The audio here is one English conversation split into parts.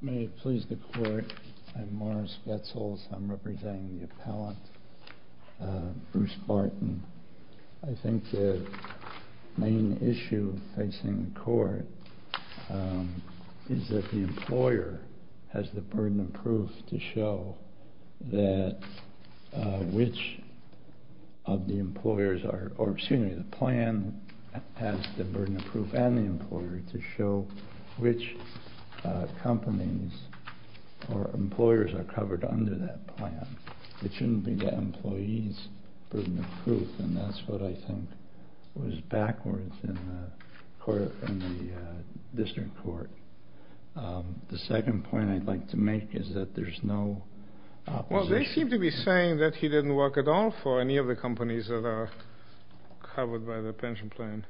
May it please the Court, I'm Morris Goetzels, I'm representing the appellant, Bruce Barton. I think the main issue facing the Court is that the employer has the burden of proof to show that which of the employers, excuse me, the plan has the burden of proof and the employer to show which companies or employers are covered under that plan. It shouldn't be the employee's burden of proof and that's what I think was backwards in the District Court. The second point I'd like to make is that there's no opposition. They seem to be saying that he didn't work at all for any of the companies that are covered by the pension plan.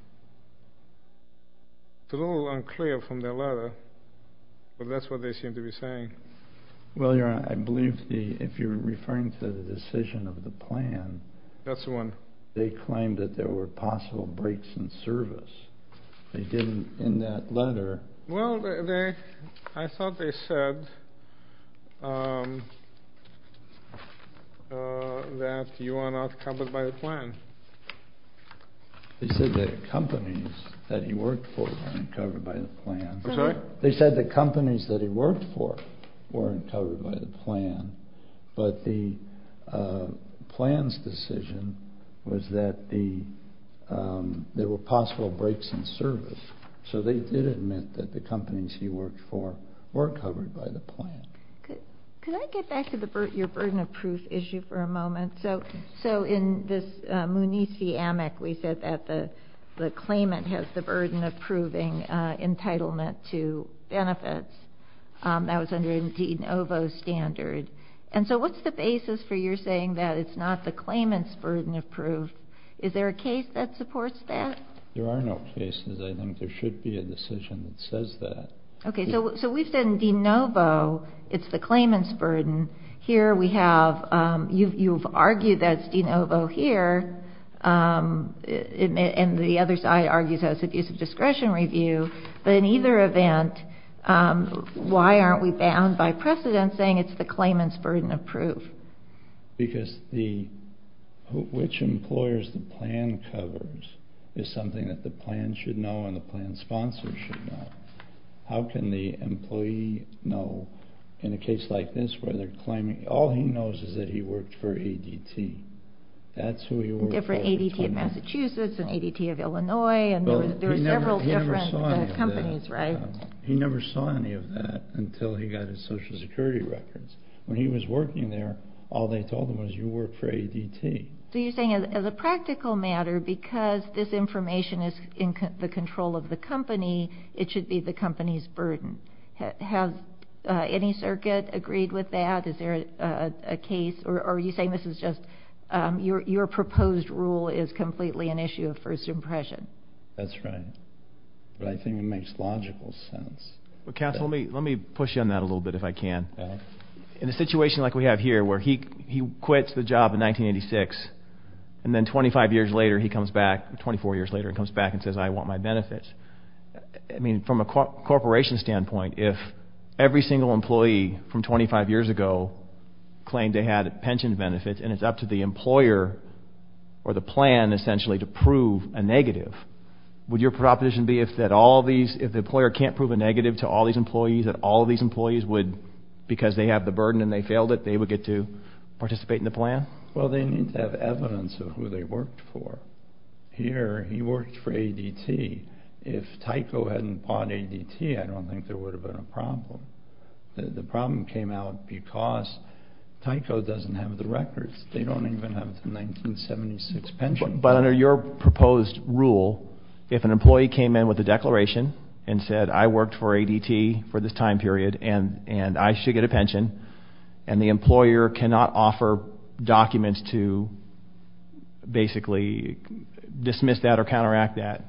It's a little unclear from their letter, but that's what they seem to be saying. Well, Your Honor, I believe if you're referring to the decision of the plan, they claimed that there were possible breaks in service. They didn't in that letter. Well, I thought they said that you are not covered by the plan. They said the companies that he worked for weren't covered by the plan. I'm sorry? There were possible breaks in service. So they did admit that the companies he worked for were covered by the plan. Could I get back to your burden of proof issue for a moment? So in this munici-amic, we said that the claimant has the burden of proving entitlement to benefits. That was under a de novo standard. And so what's the basis for your saying that it's not the claimant's burden of proof? Is there a case that supports that? There are no cases. I think there should be a decision that says that. Okay. So we've said in de novo it's the claimant's burden. Here we have you've argued that it's de novo here, and the other side argues that it's a discretion review. But in either event, why aren't we bound by precedent saying it's the claimant's burden of proof? Because which employers the plan covers is something that the plan should know and the plan sponsors should know. How can the employee know in a case like this where they're claiming all he knows is that he worked for ADT? That's who he worked for. A different ADT of Massachusetts, an ADT of Illinois, and there were several different companies, right? He never saw any of that until he got his Social Security records. When he was working there, all they told him was you worked for ADT. So you're saying as a practical matter, because this information is in the control of the company, it should be the company's burden. Has any circuit agreed with that? Is there a case? Or are you saying this is just your proposed rule is completely an issue of first impression? That's right. But I think it makes logical sense. Councilman, let me push you on that a little bit if I can. In a situation like we have here where he quits the job in 1986 and then 25 years later he comes back, 24 years later he comes back and says I want my benefits. I mean from a corporation standpoint, if every single employee from 25 years ago claimed they had pension benefits and it's up to the employer or the plan essentially to prove a negative, would your proposition be that if the employer can't prove a negative to all these employees, that all these employees would, because they have the burden and they failed it, they would get to participate in the plan? Well, they need to have evidence of who they worked for. Here, he worked for ADT. If Tyco hadn't bought ADT, I don't think there would have been a problem. The problem came out because Tyco doesn't have the records. They don't even have the 1976 pension. But under your proposed rule, if an employee came in with a declaration and said I worked for ADT for this time period and I should get a pension and the employer cannot offer documents to basically dismiss that or counteract that,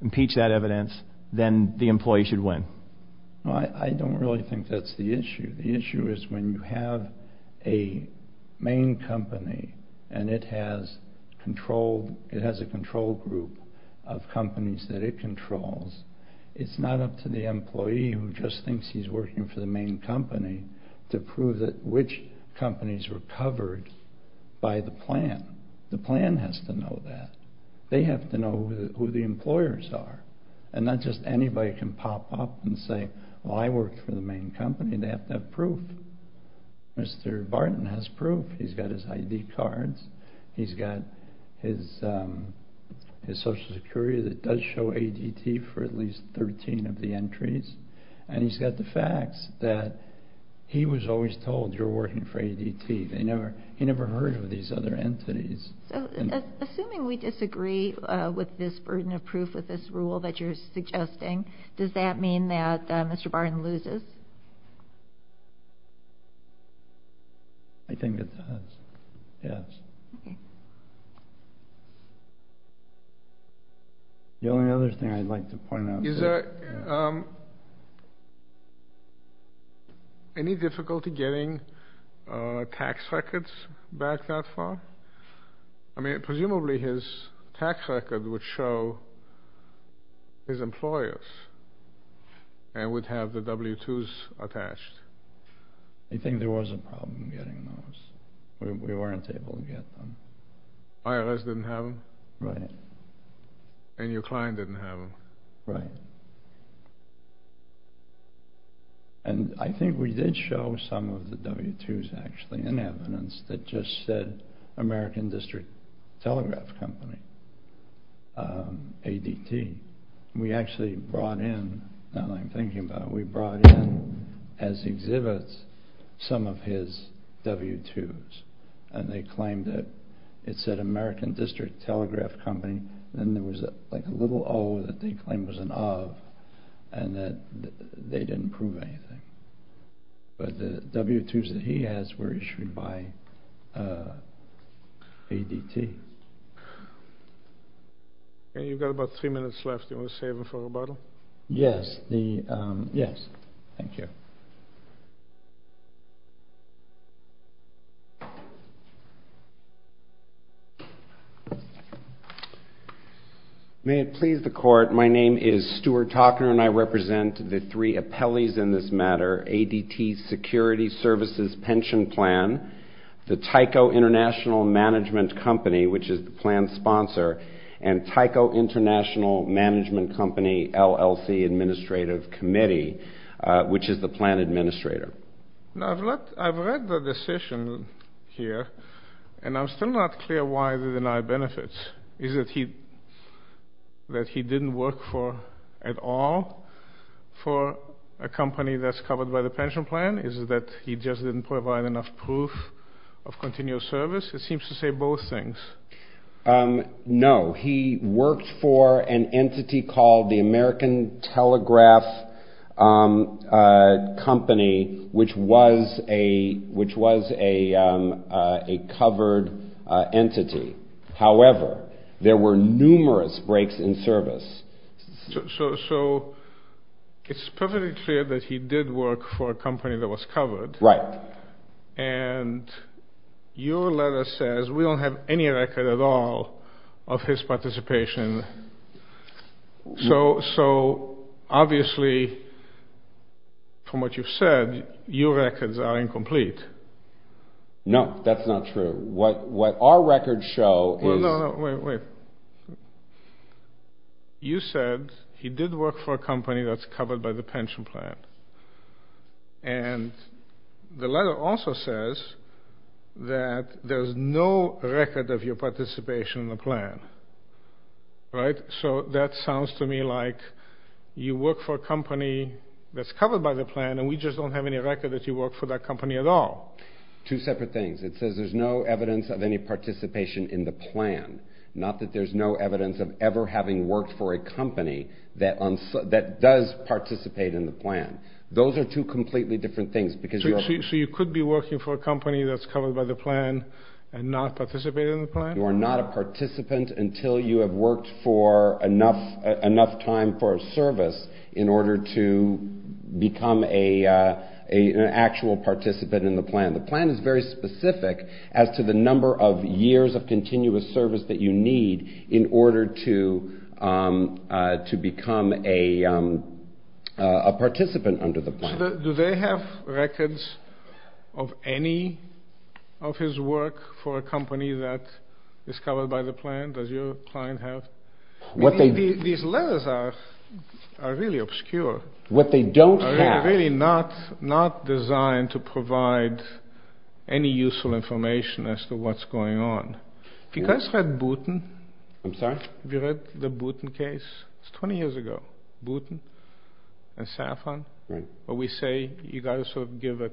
impeach that evidence, then the employee should win. I don't really think that's the issue. The issue is when you have a main company and it has a control group of companies that it controls, it's not up to the employee who just thinks he's working for the main company to prove which companies were covered by the plan. The plan has to know that. They have to know who the employers are. And not just anybody can pop up and say, well, I worked for the main company. They have to have proof. Mr. Barton has proof. He's got his ID cards. He's got his Social Security that does show ADT for at least 13 of the entries. And he's got the facts that he was always told you're working for ADT. He never heard of these other entities. So assuming we disagree with this burden of proof with this rule that you're suggesting, does that mean that Mr. Barton loses? I think it does, yes. Okay. The only other thing I'd like to point out is that any difficulty getting tax records back that far? I mean, presumably his tax record would show his employers and would have the W-2s attached. I think there was a problem getting those. We weren't able to get them. IRS didn't have them? Right. And your client didn't have them? Right. And I think we did show some of the W-2s actually in evidence that just said American District Telegraph Company, ADT. We actually brought in, now that I'm thinking about it, we brought in as exhibits some of his W-2s. And they claimed that it said American District Telegraph Company. Then there was like a little O that they claimed was an of and that they didn't prove anything. But the W-2s that he has were issued by ADT. Okay. You've got about three minutes left. Do you want to save them for rebuttal? Yes. Yes. Thank you. May it please the Court, my name is Stuart Talkner, and I represent the three appellees in this matter, ADT Security Services Pension Plan, the Tyco International Management Company, which is the plan's sponsor, and Tyco International Management Company LLC Administrative Committee, which is the plan administrator. Now, I've read the decision here, and I'm still not clear why they deny benefits. Is it that he didn't work for at all for a company that's covered by the pension plan? Is it that he just didn't provide enough proof of continuous service? It seems to say both things. No. He worked for an entity called the American Telegraph Company, which was a covered entity. However, there were numerous breaks in service. So it's perfectly clear that he did work for a company that was covered. Right. And your letter says we don't have any record at all of his participation. So obviously, from what you've said, your records are incomplete. No, that's not true. What our records show is— No, no, wait, wait. You said he did work for a company that's covered by the pension plan. And the letter also says that there's no record of your participation in the plan. Right? So that sounds to me like you work for a company that's covered by the plan, and we just don't have any record that you worked for that company at all. Two separate things. It says there's no evidence of any participation in the plan, not that there's no evidence of ever having worked for a company that does participate in the plan. Those are two completely different things. So you could be working for a company that's covered by the plan and not participate in the plan? You are not a participant until you have worked for enough time for a service in order to become an actual participant in the plan. The plan is very specific as to the number of years of continuous service that you need in order to become a participant under the plan. Do they have records of any of his work for a company that is covered by the plan? Does your client have? These letters are really obscure. What they don't have— any useful information as to what's going on. Have you guys read Boutin? I'm sorry? Have you read the Boutin case? It's 20 years ago. Boutin and Safran, where we say you've got to give a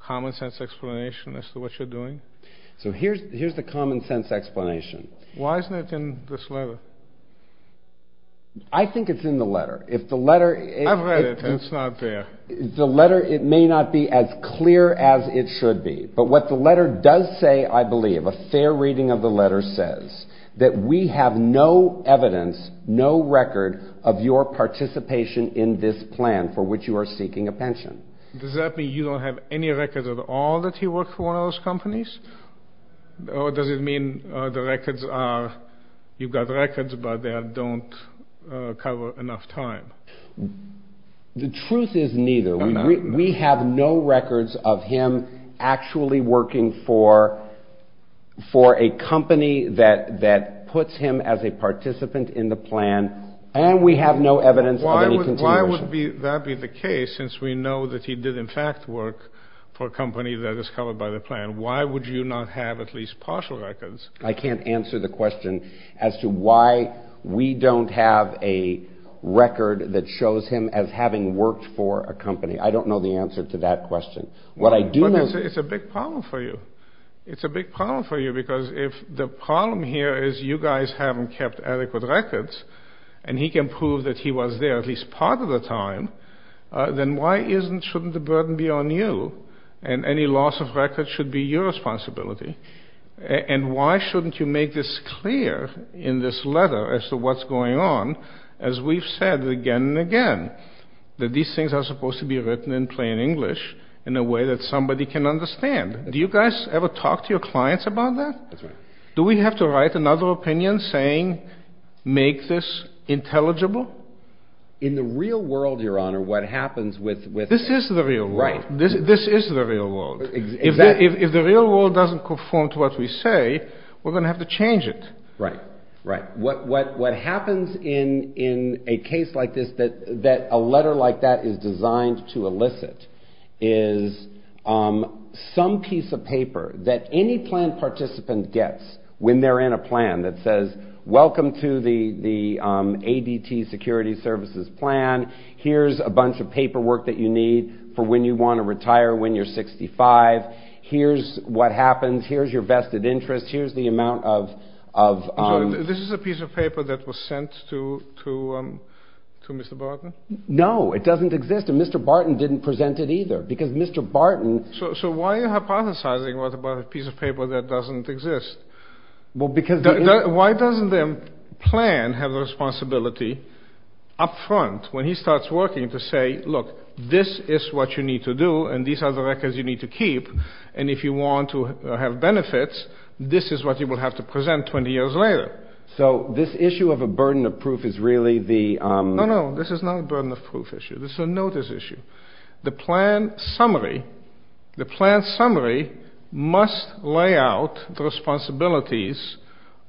common sense explanation as to what you're doing. So here's the common sense explanation. Why isn't it in this letter? I think it's in the letter. I've read it, and it's not there. The letter, it may not be as clear as it should be, but what the letter does say, I believe, a fair reading of the letter says, that we have no evidence, no record of your participation in this plan for which you are seeking a pension. Does that mean you don't have any records at all that he worked for one of those companies? Or does it mean the records are— you've got records, but they don't cover enough time? The truth is neither. We have no records of him actually working for a company that puts him as a participant in the plan, and we have no evidence of any continuation. Why would that be the case, since we know that he did in fact work for a company that is covered by the plan? Why would you not have at least partial records? I can't answer the question as to why we don't have a record that shows him as having worked for a company. I don't know the answer to that question. What I do know— But it's a big problem for you. It's a big problem for you, because if the problem here is you guys haven't kept adequate records, and he can prove that he was there at least part of the time, then why shouldn't the burden be on you, and any loss of records should be your responsibility? And why shouldn't you make this clear in this letter as to what's going on, as we've said again and again, that these things are supposed to be written in plain English in a way that somebody can understand? Do you guys ever talk to your clients about that? Do we have to write another opinion saying, make this intelligible? In the real world, Your Honor, what happens with— This is the real world. Right. This is the real world. If the real world doesn't conform to what we say, we're going to have to change it. Right, right. What happens in a case like this, that a letter like that is designed to elicit, is some piece of paper that any planned participant gets when they're in a plan that says, welcome to the ADT security services plan. Here's a bunch of paperwork that you need for when you want to retire, when you're 65. Here's what happens. Here's your vested interest. Here's the amount of— So this is a piece of paper that was sent to Mr. Barton? No, it doesn't exist. And Mr. Barton didn't present it either, because Mr. Barton— So why are you hypothesizing about a piece of paper that doesn't exist? Well, because— Why doesn't their plan have the responsibility up front, when he starts working, to say, look, this is what you need to do, and these are the records you need to keep, and if you want to have benefits, this is what you will have to present 20 years later. So this issue of a burden of proof is really the— No, no, this is not a burden of proof issue. This is a notice issue. The plan summary must lay out the responsibilities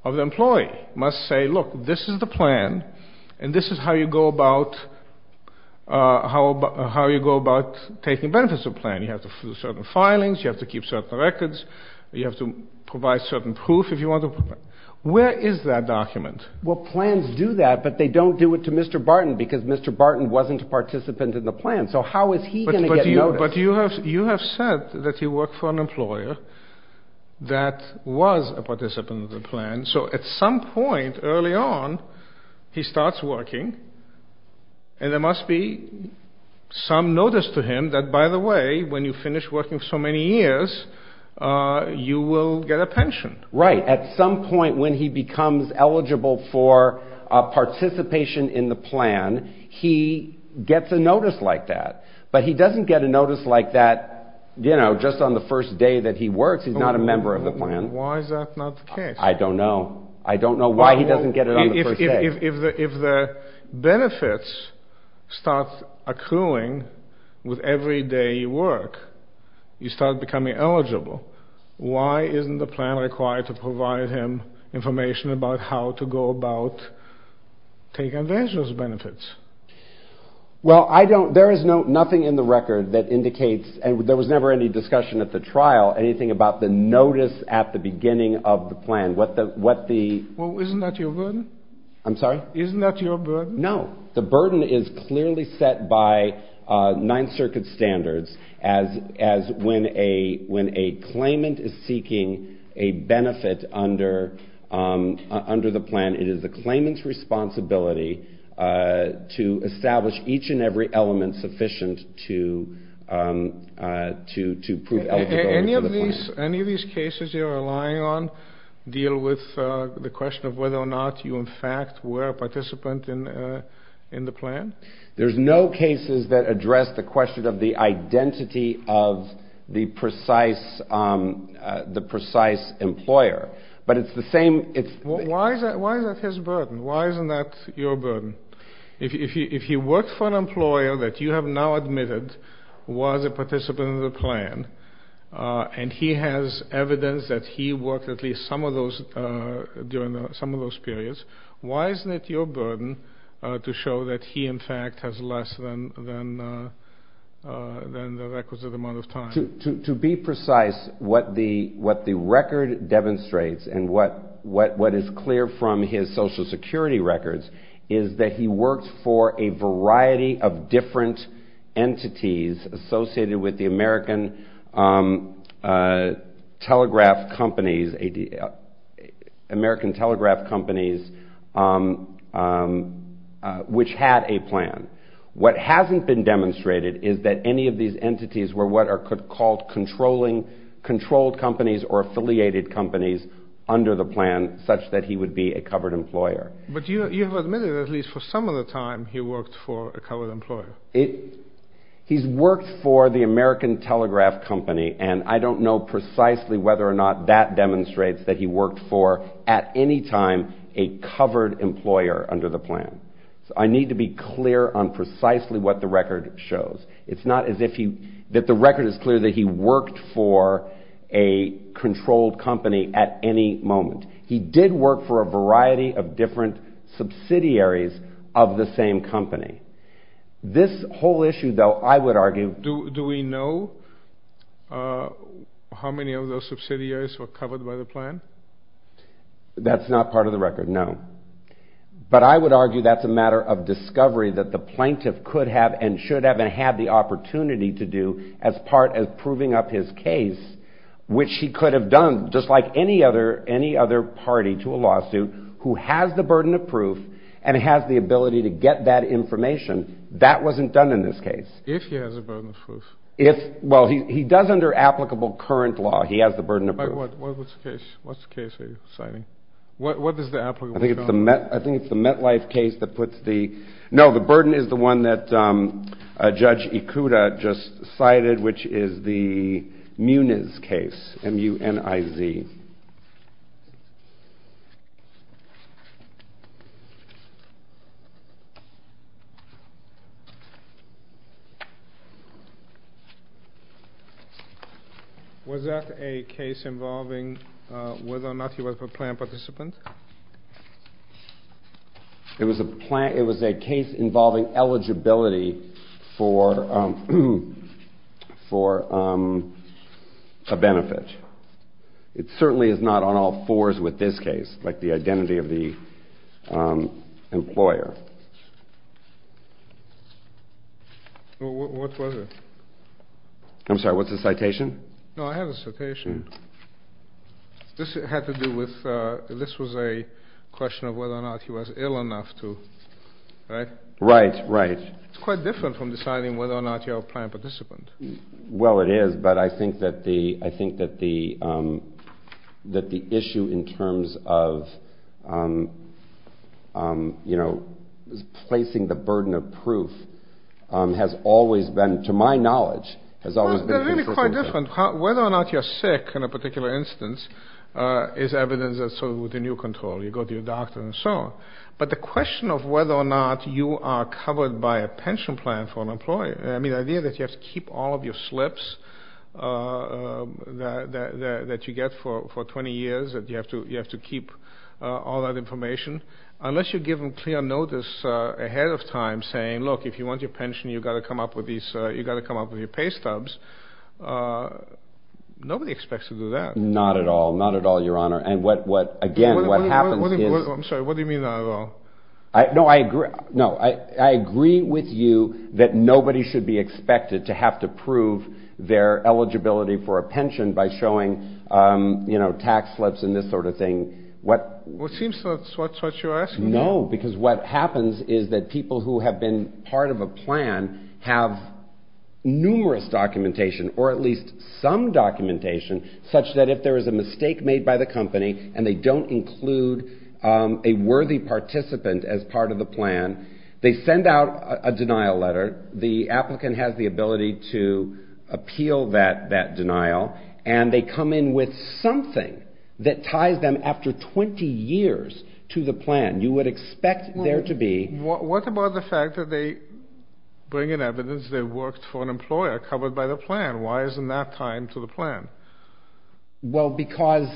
of the employee. It must say, look, this is the plan, and this is how you go about taking benefits of the plan. You have to do certain filings. You have to keep certain records. You have to provide certain proof if you want to— Where is that document? Well, plans do that, but they don't do it to Mr. Barton, because Mr. Barton wasn't a participant in the plan. So how is he going to get notice? But you have said that he worked for an employer that was a participant in the plan. So at some point early on, he starts working, and there must be some notice to him that, by the way, when you finish working so many years, you will get a pension. Right. At some point when he becomes eligible for participation in the plan, he gets a notice like that, but he doesn't get a notice like that just on the first day that he works. Why is that not the case? I don't know. I don't know why he doesn't get it on the first day. If the benefits start accruing with every day you work, you start becoming eligible, why isn't the plan required to provide him information about how to go about taking advantage of those benefits? Well, I don't— There is nothing in the record that indicates, and there was never any discussion at the trial, anything about the notice at the beginning of the plan. Well, isn't that your burden? I'm sorry? Isn't that your burden? No. The burden is clearly set by Ninth Circuit standards as when a claimant is seeking a benefit under the plan, it is the claimant's responsibility to establish each and every element sufficient to prove eligibility. Any of these cases you're relying on deal with the question of whether or not you in fact were a participant in the plan? There's no cases that address the question of the identity of the precise employer, but it's the same— Why is that his burden? Why isn't that your burden? If he worked for an employer that you have now admitted was a participant in the plan, and he has evidence that he worked at least some of those periods, why isn't it your burden to show that he in fact has less than the requisite amount of time? To be precise, what the record demonstrates, and what is clear from his Social Security records, is that he worked for a variety of different entities associated with the American telegraph companies which had a plan. What hasn't been demonstrated is that any of these entities were what are called controlled companies or affiliated companies under the plan, such that he would be a covered employer. But you have admitted that at least for some of the time he worked for a covered employer. He's worked for the American telegraph company, and I don't know precisely whether or not that demonstrates that he worked for, at any time, a covered employer under the plan. So I need to be clear on precisely what the record shows. It's not as if the record is clear that he worked for a controlled company at any moment. He did work for a variety of different subsidiaries of the same company. This whole issue, though, I would argue... Do we know how many of those subsidiaries were covered by the plan? That's not part of the record, no. But I would argue that's a matter of discovery that the plaintiff could have and should have and had the opportunity to do as part of proving up his case, which he could have done just like any other party to a lawsuit who has the burden of proof and has the ability to get that information. That wasn't done in this case. If he has a burden of proof? Well, he does under applicable current law. He has the burden of proof. What's the case that you're citing? What is the applicable current law? I think it's the MetLife case that puts the... M-U-N-I-Z. Was that a case involving whether or not he was a planned participant? It was a case involving eligibility for a benefit. It certainly is not on all fours with this case, like the identity of the employer. What was it? I'm sorry, what's the citation? No, I have a citation. This had to do with... This was a question of whether or not he was ill enough to... Right? Right, right. It's quite different from deciding whether or not you're a planned participant. Well, it is, but I think that the issue in terms of placing the burden of proof has always been, to my knowledge, has always been... It's really quite different. Whether or not you're sick, in a particular instance, is evidence that's sort of within your control. You go to your doctor and so on. But the question of whether or not you are covered by a pension plan for an employer, I mean, the idea that you have to keep all of your slips that you get for 20 years, that you have to keep all that information, unless you give them clear notice ahead of time saying, look, if you want your pension, you've got to come up with your pay stubs. Nobody expects to do that. Not at all. Not at all, Your Honor. And again, what happens is... I'm sorry, what do you mean, not at all? No, I agree with you that nobody should be expected to have to prove their eligibility for a pension by showing tax slips and this sort of thing. Well, it seems that's what you're asking. No, because what happens is that people who have been part of a plan have numerous documentation, or at least some documentation, such that if there is a mistake made by the company and they don't include a worthy participant as part of the plan, they send out a denial letter. The applicant has the ability to appeal that denial, and they come in with something that ties them after 20 years to the plan. You would expect there to be... What about the fact that they bring in evidence they worked for an employer covered by the plan? Why isn't that tied to the plan? Well, because...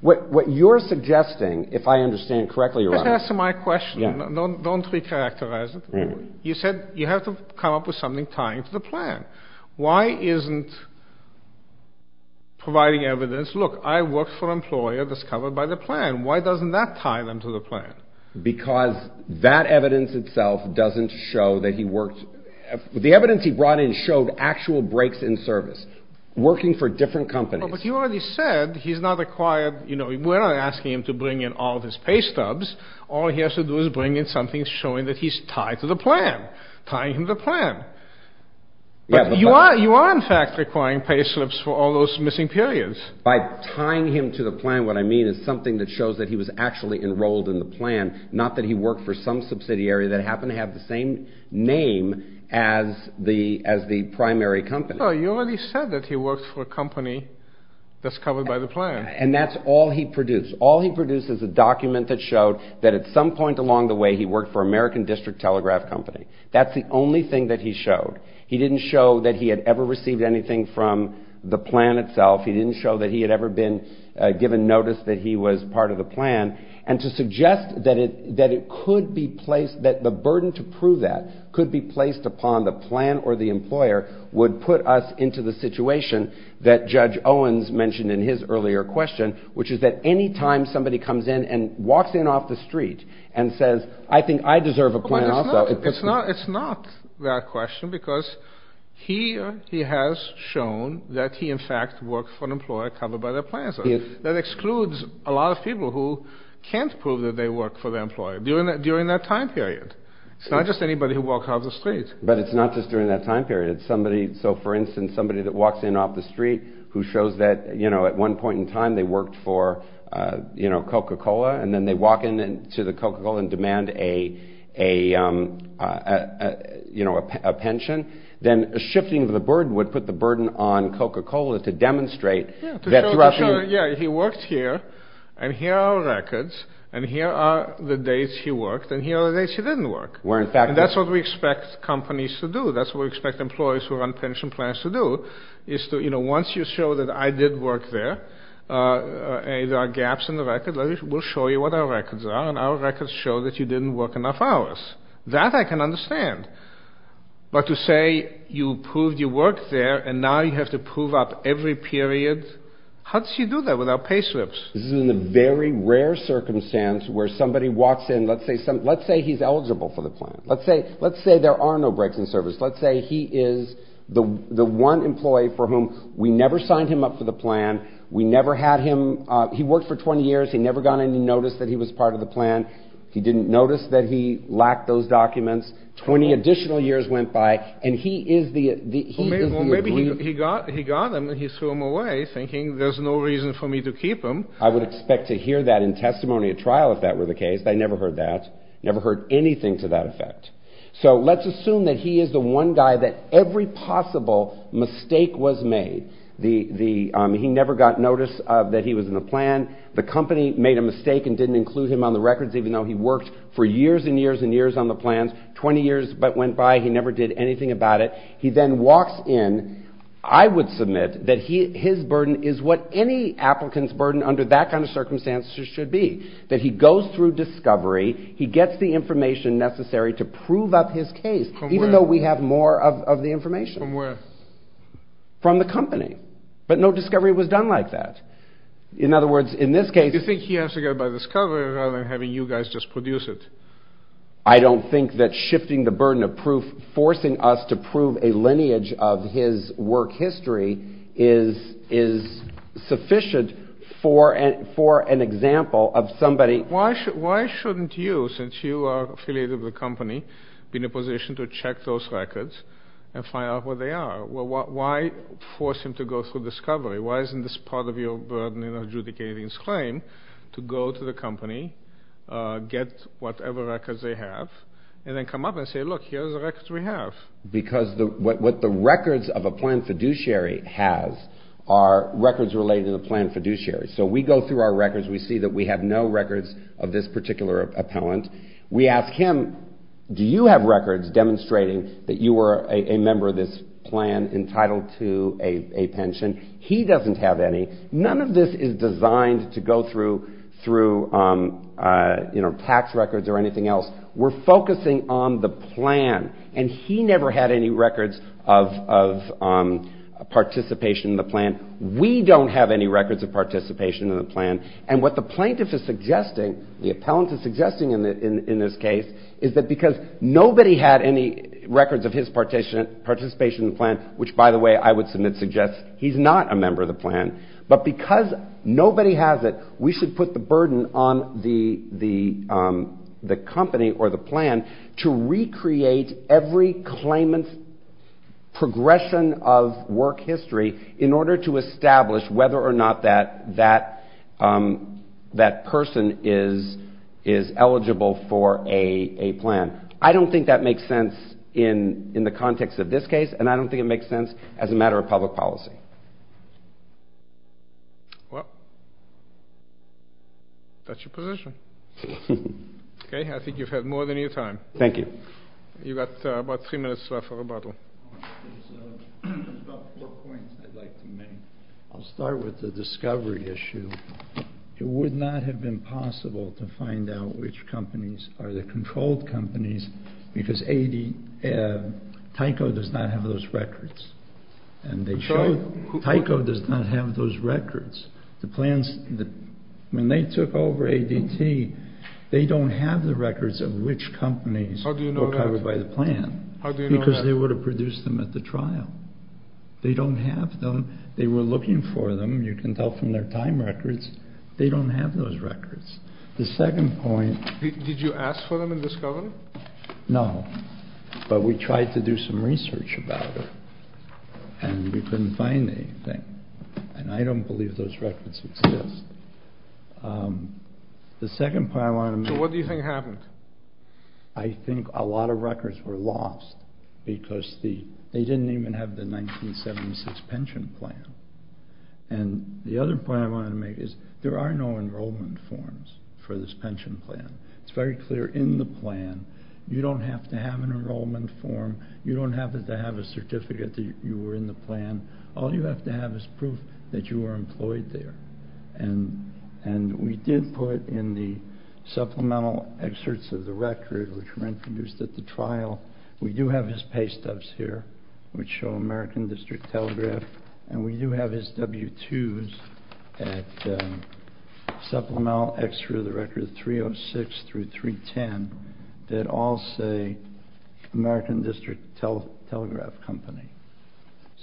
What you're suggesting, if I understand correctly, Your Honor... Just answer my question. Don't recharacterize it. You said you have to come up with something tying to the plan. Why isn't providing evidence, look, I worked for an employer that's covered by the plan. Why doesn't that tie them to the plan? Because that evidence itself doesn't show that he worked... The evidence he brought in showed actual breaks in service, working for different companies. But you already said he's not required... We're not asking him to bring in all of his pay stubs. All he has to do is bring in something showing that he's tied to the plan, tying him to the plan. But you are, in fact, requiring pay slips for all those missing periods. By tying him to the plan, what I mean is something that shows that he was actually enrolled in the plan, not that he worked for some subsidiary that happened to have the same name as the primary company. Well, you already said that he worked for a company that's covered by the plan. And that's all he produced. All he produced is a document that showed that at some point along the way he worked for American District Telegraph Company. That's the only thing that he showed. He didn't show that he had ever received anything from the plan itself. He didn't show that he had ever been given notice that he was part of the plan. And to suggest that it could be placed, that the burden to prove that could be placed upon the plan or the employer, would put us into the situation that Judge Owens mentioned in his earlier question, which is that any time somebody comes in and walks in off the street and says, I think I deserve a plan also... It's not that question because he has shown that he in fact worked for an employer covered by the plan. That excludes a lot of people who can't prove that they work for their employer during that time period. It's not just anybody who walks off the street. But it's not just during that time period. It's somebody, so for instance, somebody that walks in off the street who shows that, you know, at one point in time they worked for, you know, Coca-Cola, and then they walk in to the Coca-Cola and demand a, you know, a pension. Then shifting the burden would put the burden on Coca-Cola to demonstrate that throughout the year... Yeah, he worked here, and here are records, and here are the days he worked, and here are the days he didn't work. And that's what we expect companies to do. That's what we expect employers who run pension plans to do, is to, you know, once you show that I did work there, and there are gaps in the record, we'll show you what our records are, and our records show that you didn't work enough hours. That I can understand. But to say you proved you worked there, and now you have to prove up every period, how do you do that without pay slips? This is in a very rare circumstance where somebody walks in, let's say he's eligible for the plan. Let's say there are no breaks in service. Let's say he is the one employee for whom we never signed him up for the plan. We never had him. He worked for 20 years. He never got any notice that he was part of the plan. He didn't notice that he lacked those documents. 20 additional years went by, and he is the... Well, maybe he got them, and he threw them away, thinking there's no reason for me to keep them. I would expect to hear that in testimony at trial if that were the case. I never heard that. Never heard anything to that effect. So let's assume that he is the one guy that every possible mistake was made. He never got notice that he was in the plan. The company made a mistake and didn't include him on the records, even though he worked for years and years and years on the plans. 20 years went by. He never did anything about it. He then walks in. I would submit that his burden is what any applicant's burden under that kind of circumstance should be, that he goes through discovery. He gets the information necessary to prove up his case, even though we have more of the information. From where? From the company. But no discovery was done like that. In other words, in this case... You think he has to go by discovery rather than having you guys just produce it? I don't think that shifting the burden of proof, forcing us to prove a lineage of his work history, is sufficient for an example of somebody... Why shouldn't you, since you are affiliated with the company, be in a position to check those records and find out where they are? Why force him to go through discovery? Why isn't this part of your burden in adjudicating his claim to go to the company, get whatever records they have, and then come up and say, look, here are the records we have? Because what the records of a planned fiduciary has are records related to the planned fiduciary. So we go through our records. We see that we have no records of this particular appellant. We ask him, do you have records demonstrating that you were a member of this plan entitled to a pension? He doesn't have any. None of this is designed to go through tax records or anything else. We're focusing on the plan, and he never had any records of participation in the plan. We don't have any records of participation in the plan. And what the plaintiff is suggesting, the appellant is suggesting in this case, is that because nobody had any records of his participation in the plan, which, by the way, I would submit suggests he's not a member of the plan, but because nobody has it, we should put the burden on the company or the plan to recreate every claimant's progression of work history in order to establish whether or not that person is eligible for a plan. I don't think that makes sense in the context of this case, and I don't think it makes sense as a matter of public policy. Well, that's your position. Okay, I think you've had more than your time. Thank you. You've got about three minutes left for rebuttal. There's about four points I'd like to make. I'll start with the discovery issue. It would not have been possible to find out which companies are the controlled companies because Tyco does not have those records, and they showed Tyco does not have those records. When they took over ADT, they don't have the records of which companies were covered by the plan because they would have produced them at the trial. They don't have them. They were looking for them. You can tell from their time records. They don't have those records. Did you ask for them in discovery? No, but we tried to do some research about it, and we couldn't find anything, and I don't believe those records exist. The second point I wanted to make is... So what do you think happened? I think a lot of records were lost because they didn't even have the 1976 pension plan. And the other point I wanted to make is there are no enrollment forms for this pension plan. It's very clear in the plan. You don't have to have an enrollment form. You don't have to have a certificate that you were in the plan. All you have to have is proof that you were employed there. And we did put in the supplemental excerpts of the record, which were introduced at the trial, we do have his pay stubs here, which show American District Telegraph, and we do have his W-2s at supplemental excerpt of the record 306 through 310 that all say American District Telegraph Company.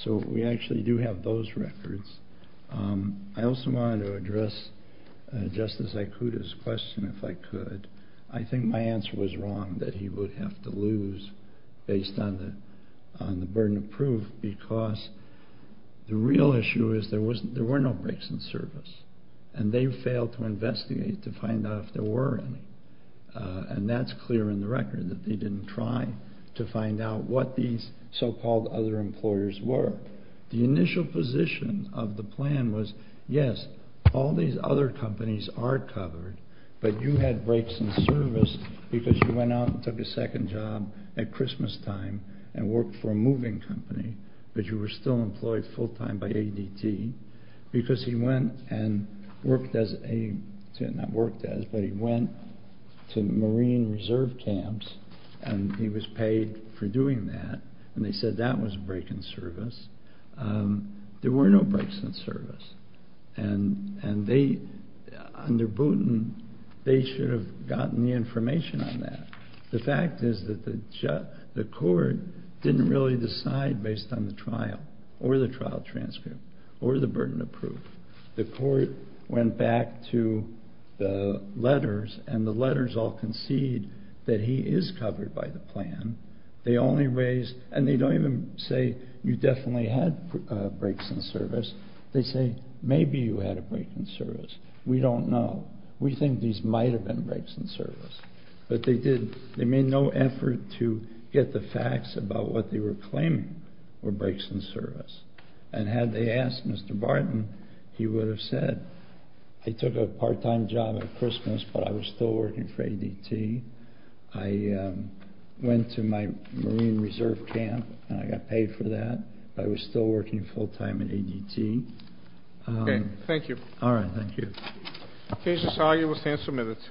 So we actually do have those records. I also wanted to address Justice Ikuda's question, if I could. I think my answer was wrong that he would have to lose based on the burden of proof because the real issue is there were no breaks in service, and they failed to investigate to find out if there were any. And that's clear in the record that they didn't try to find out what these so-called other employers were. The initial position of the plan was, yes, all these other companies are covered, but you had breaks in service because you went out and took a second job at Christmastime and worked for a moving company, but you were still employed full-time by ADT, because he went and worked as a, not worked as, but he went to marine reserve camps, and he was paid for doing that, and they said that was a break in service. There were no breaks in service, and they, under Booten, they should have gotten the information on that. The fact is that the court didn't really decide based on the trial, or the trial transcript, or the burden of proof. The court went back to the letters, and the letters all concede that he is covered by the plan. They only raise, and they don't even say, you definitely had breaks in service. They say, maybe you had a break in service. We don't know. We think these might have been breaks in service. But they did, they made no effort to get the facts about what they were claiming were breaks in service, and had they asked Mr. Barton, he would have said, I took a part-time job at Christmas, but I was still working for ADT. I went to my marine reserve camp, and I got paid for that. I was still working full-time at ADT. Okay, thank you. All right, thank you. Case is argued. We'll stand for a minute.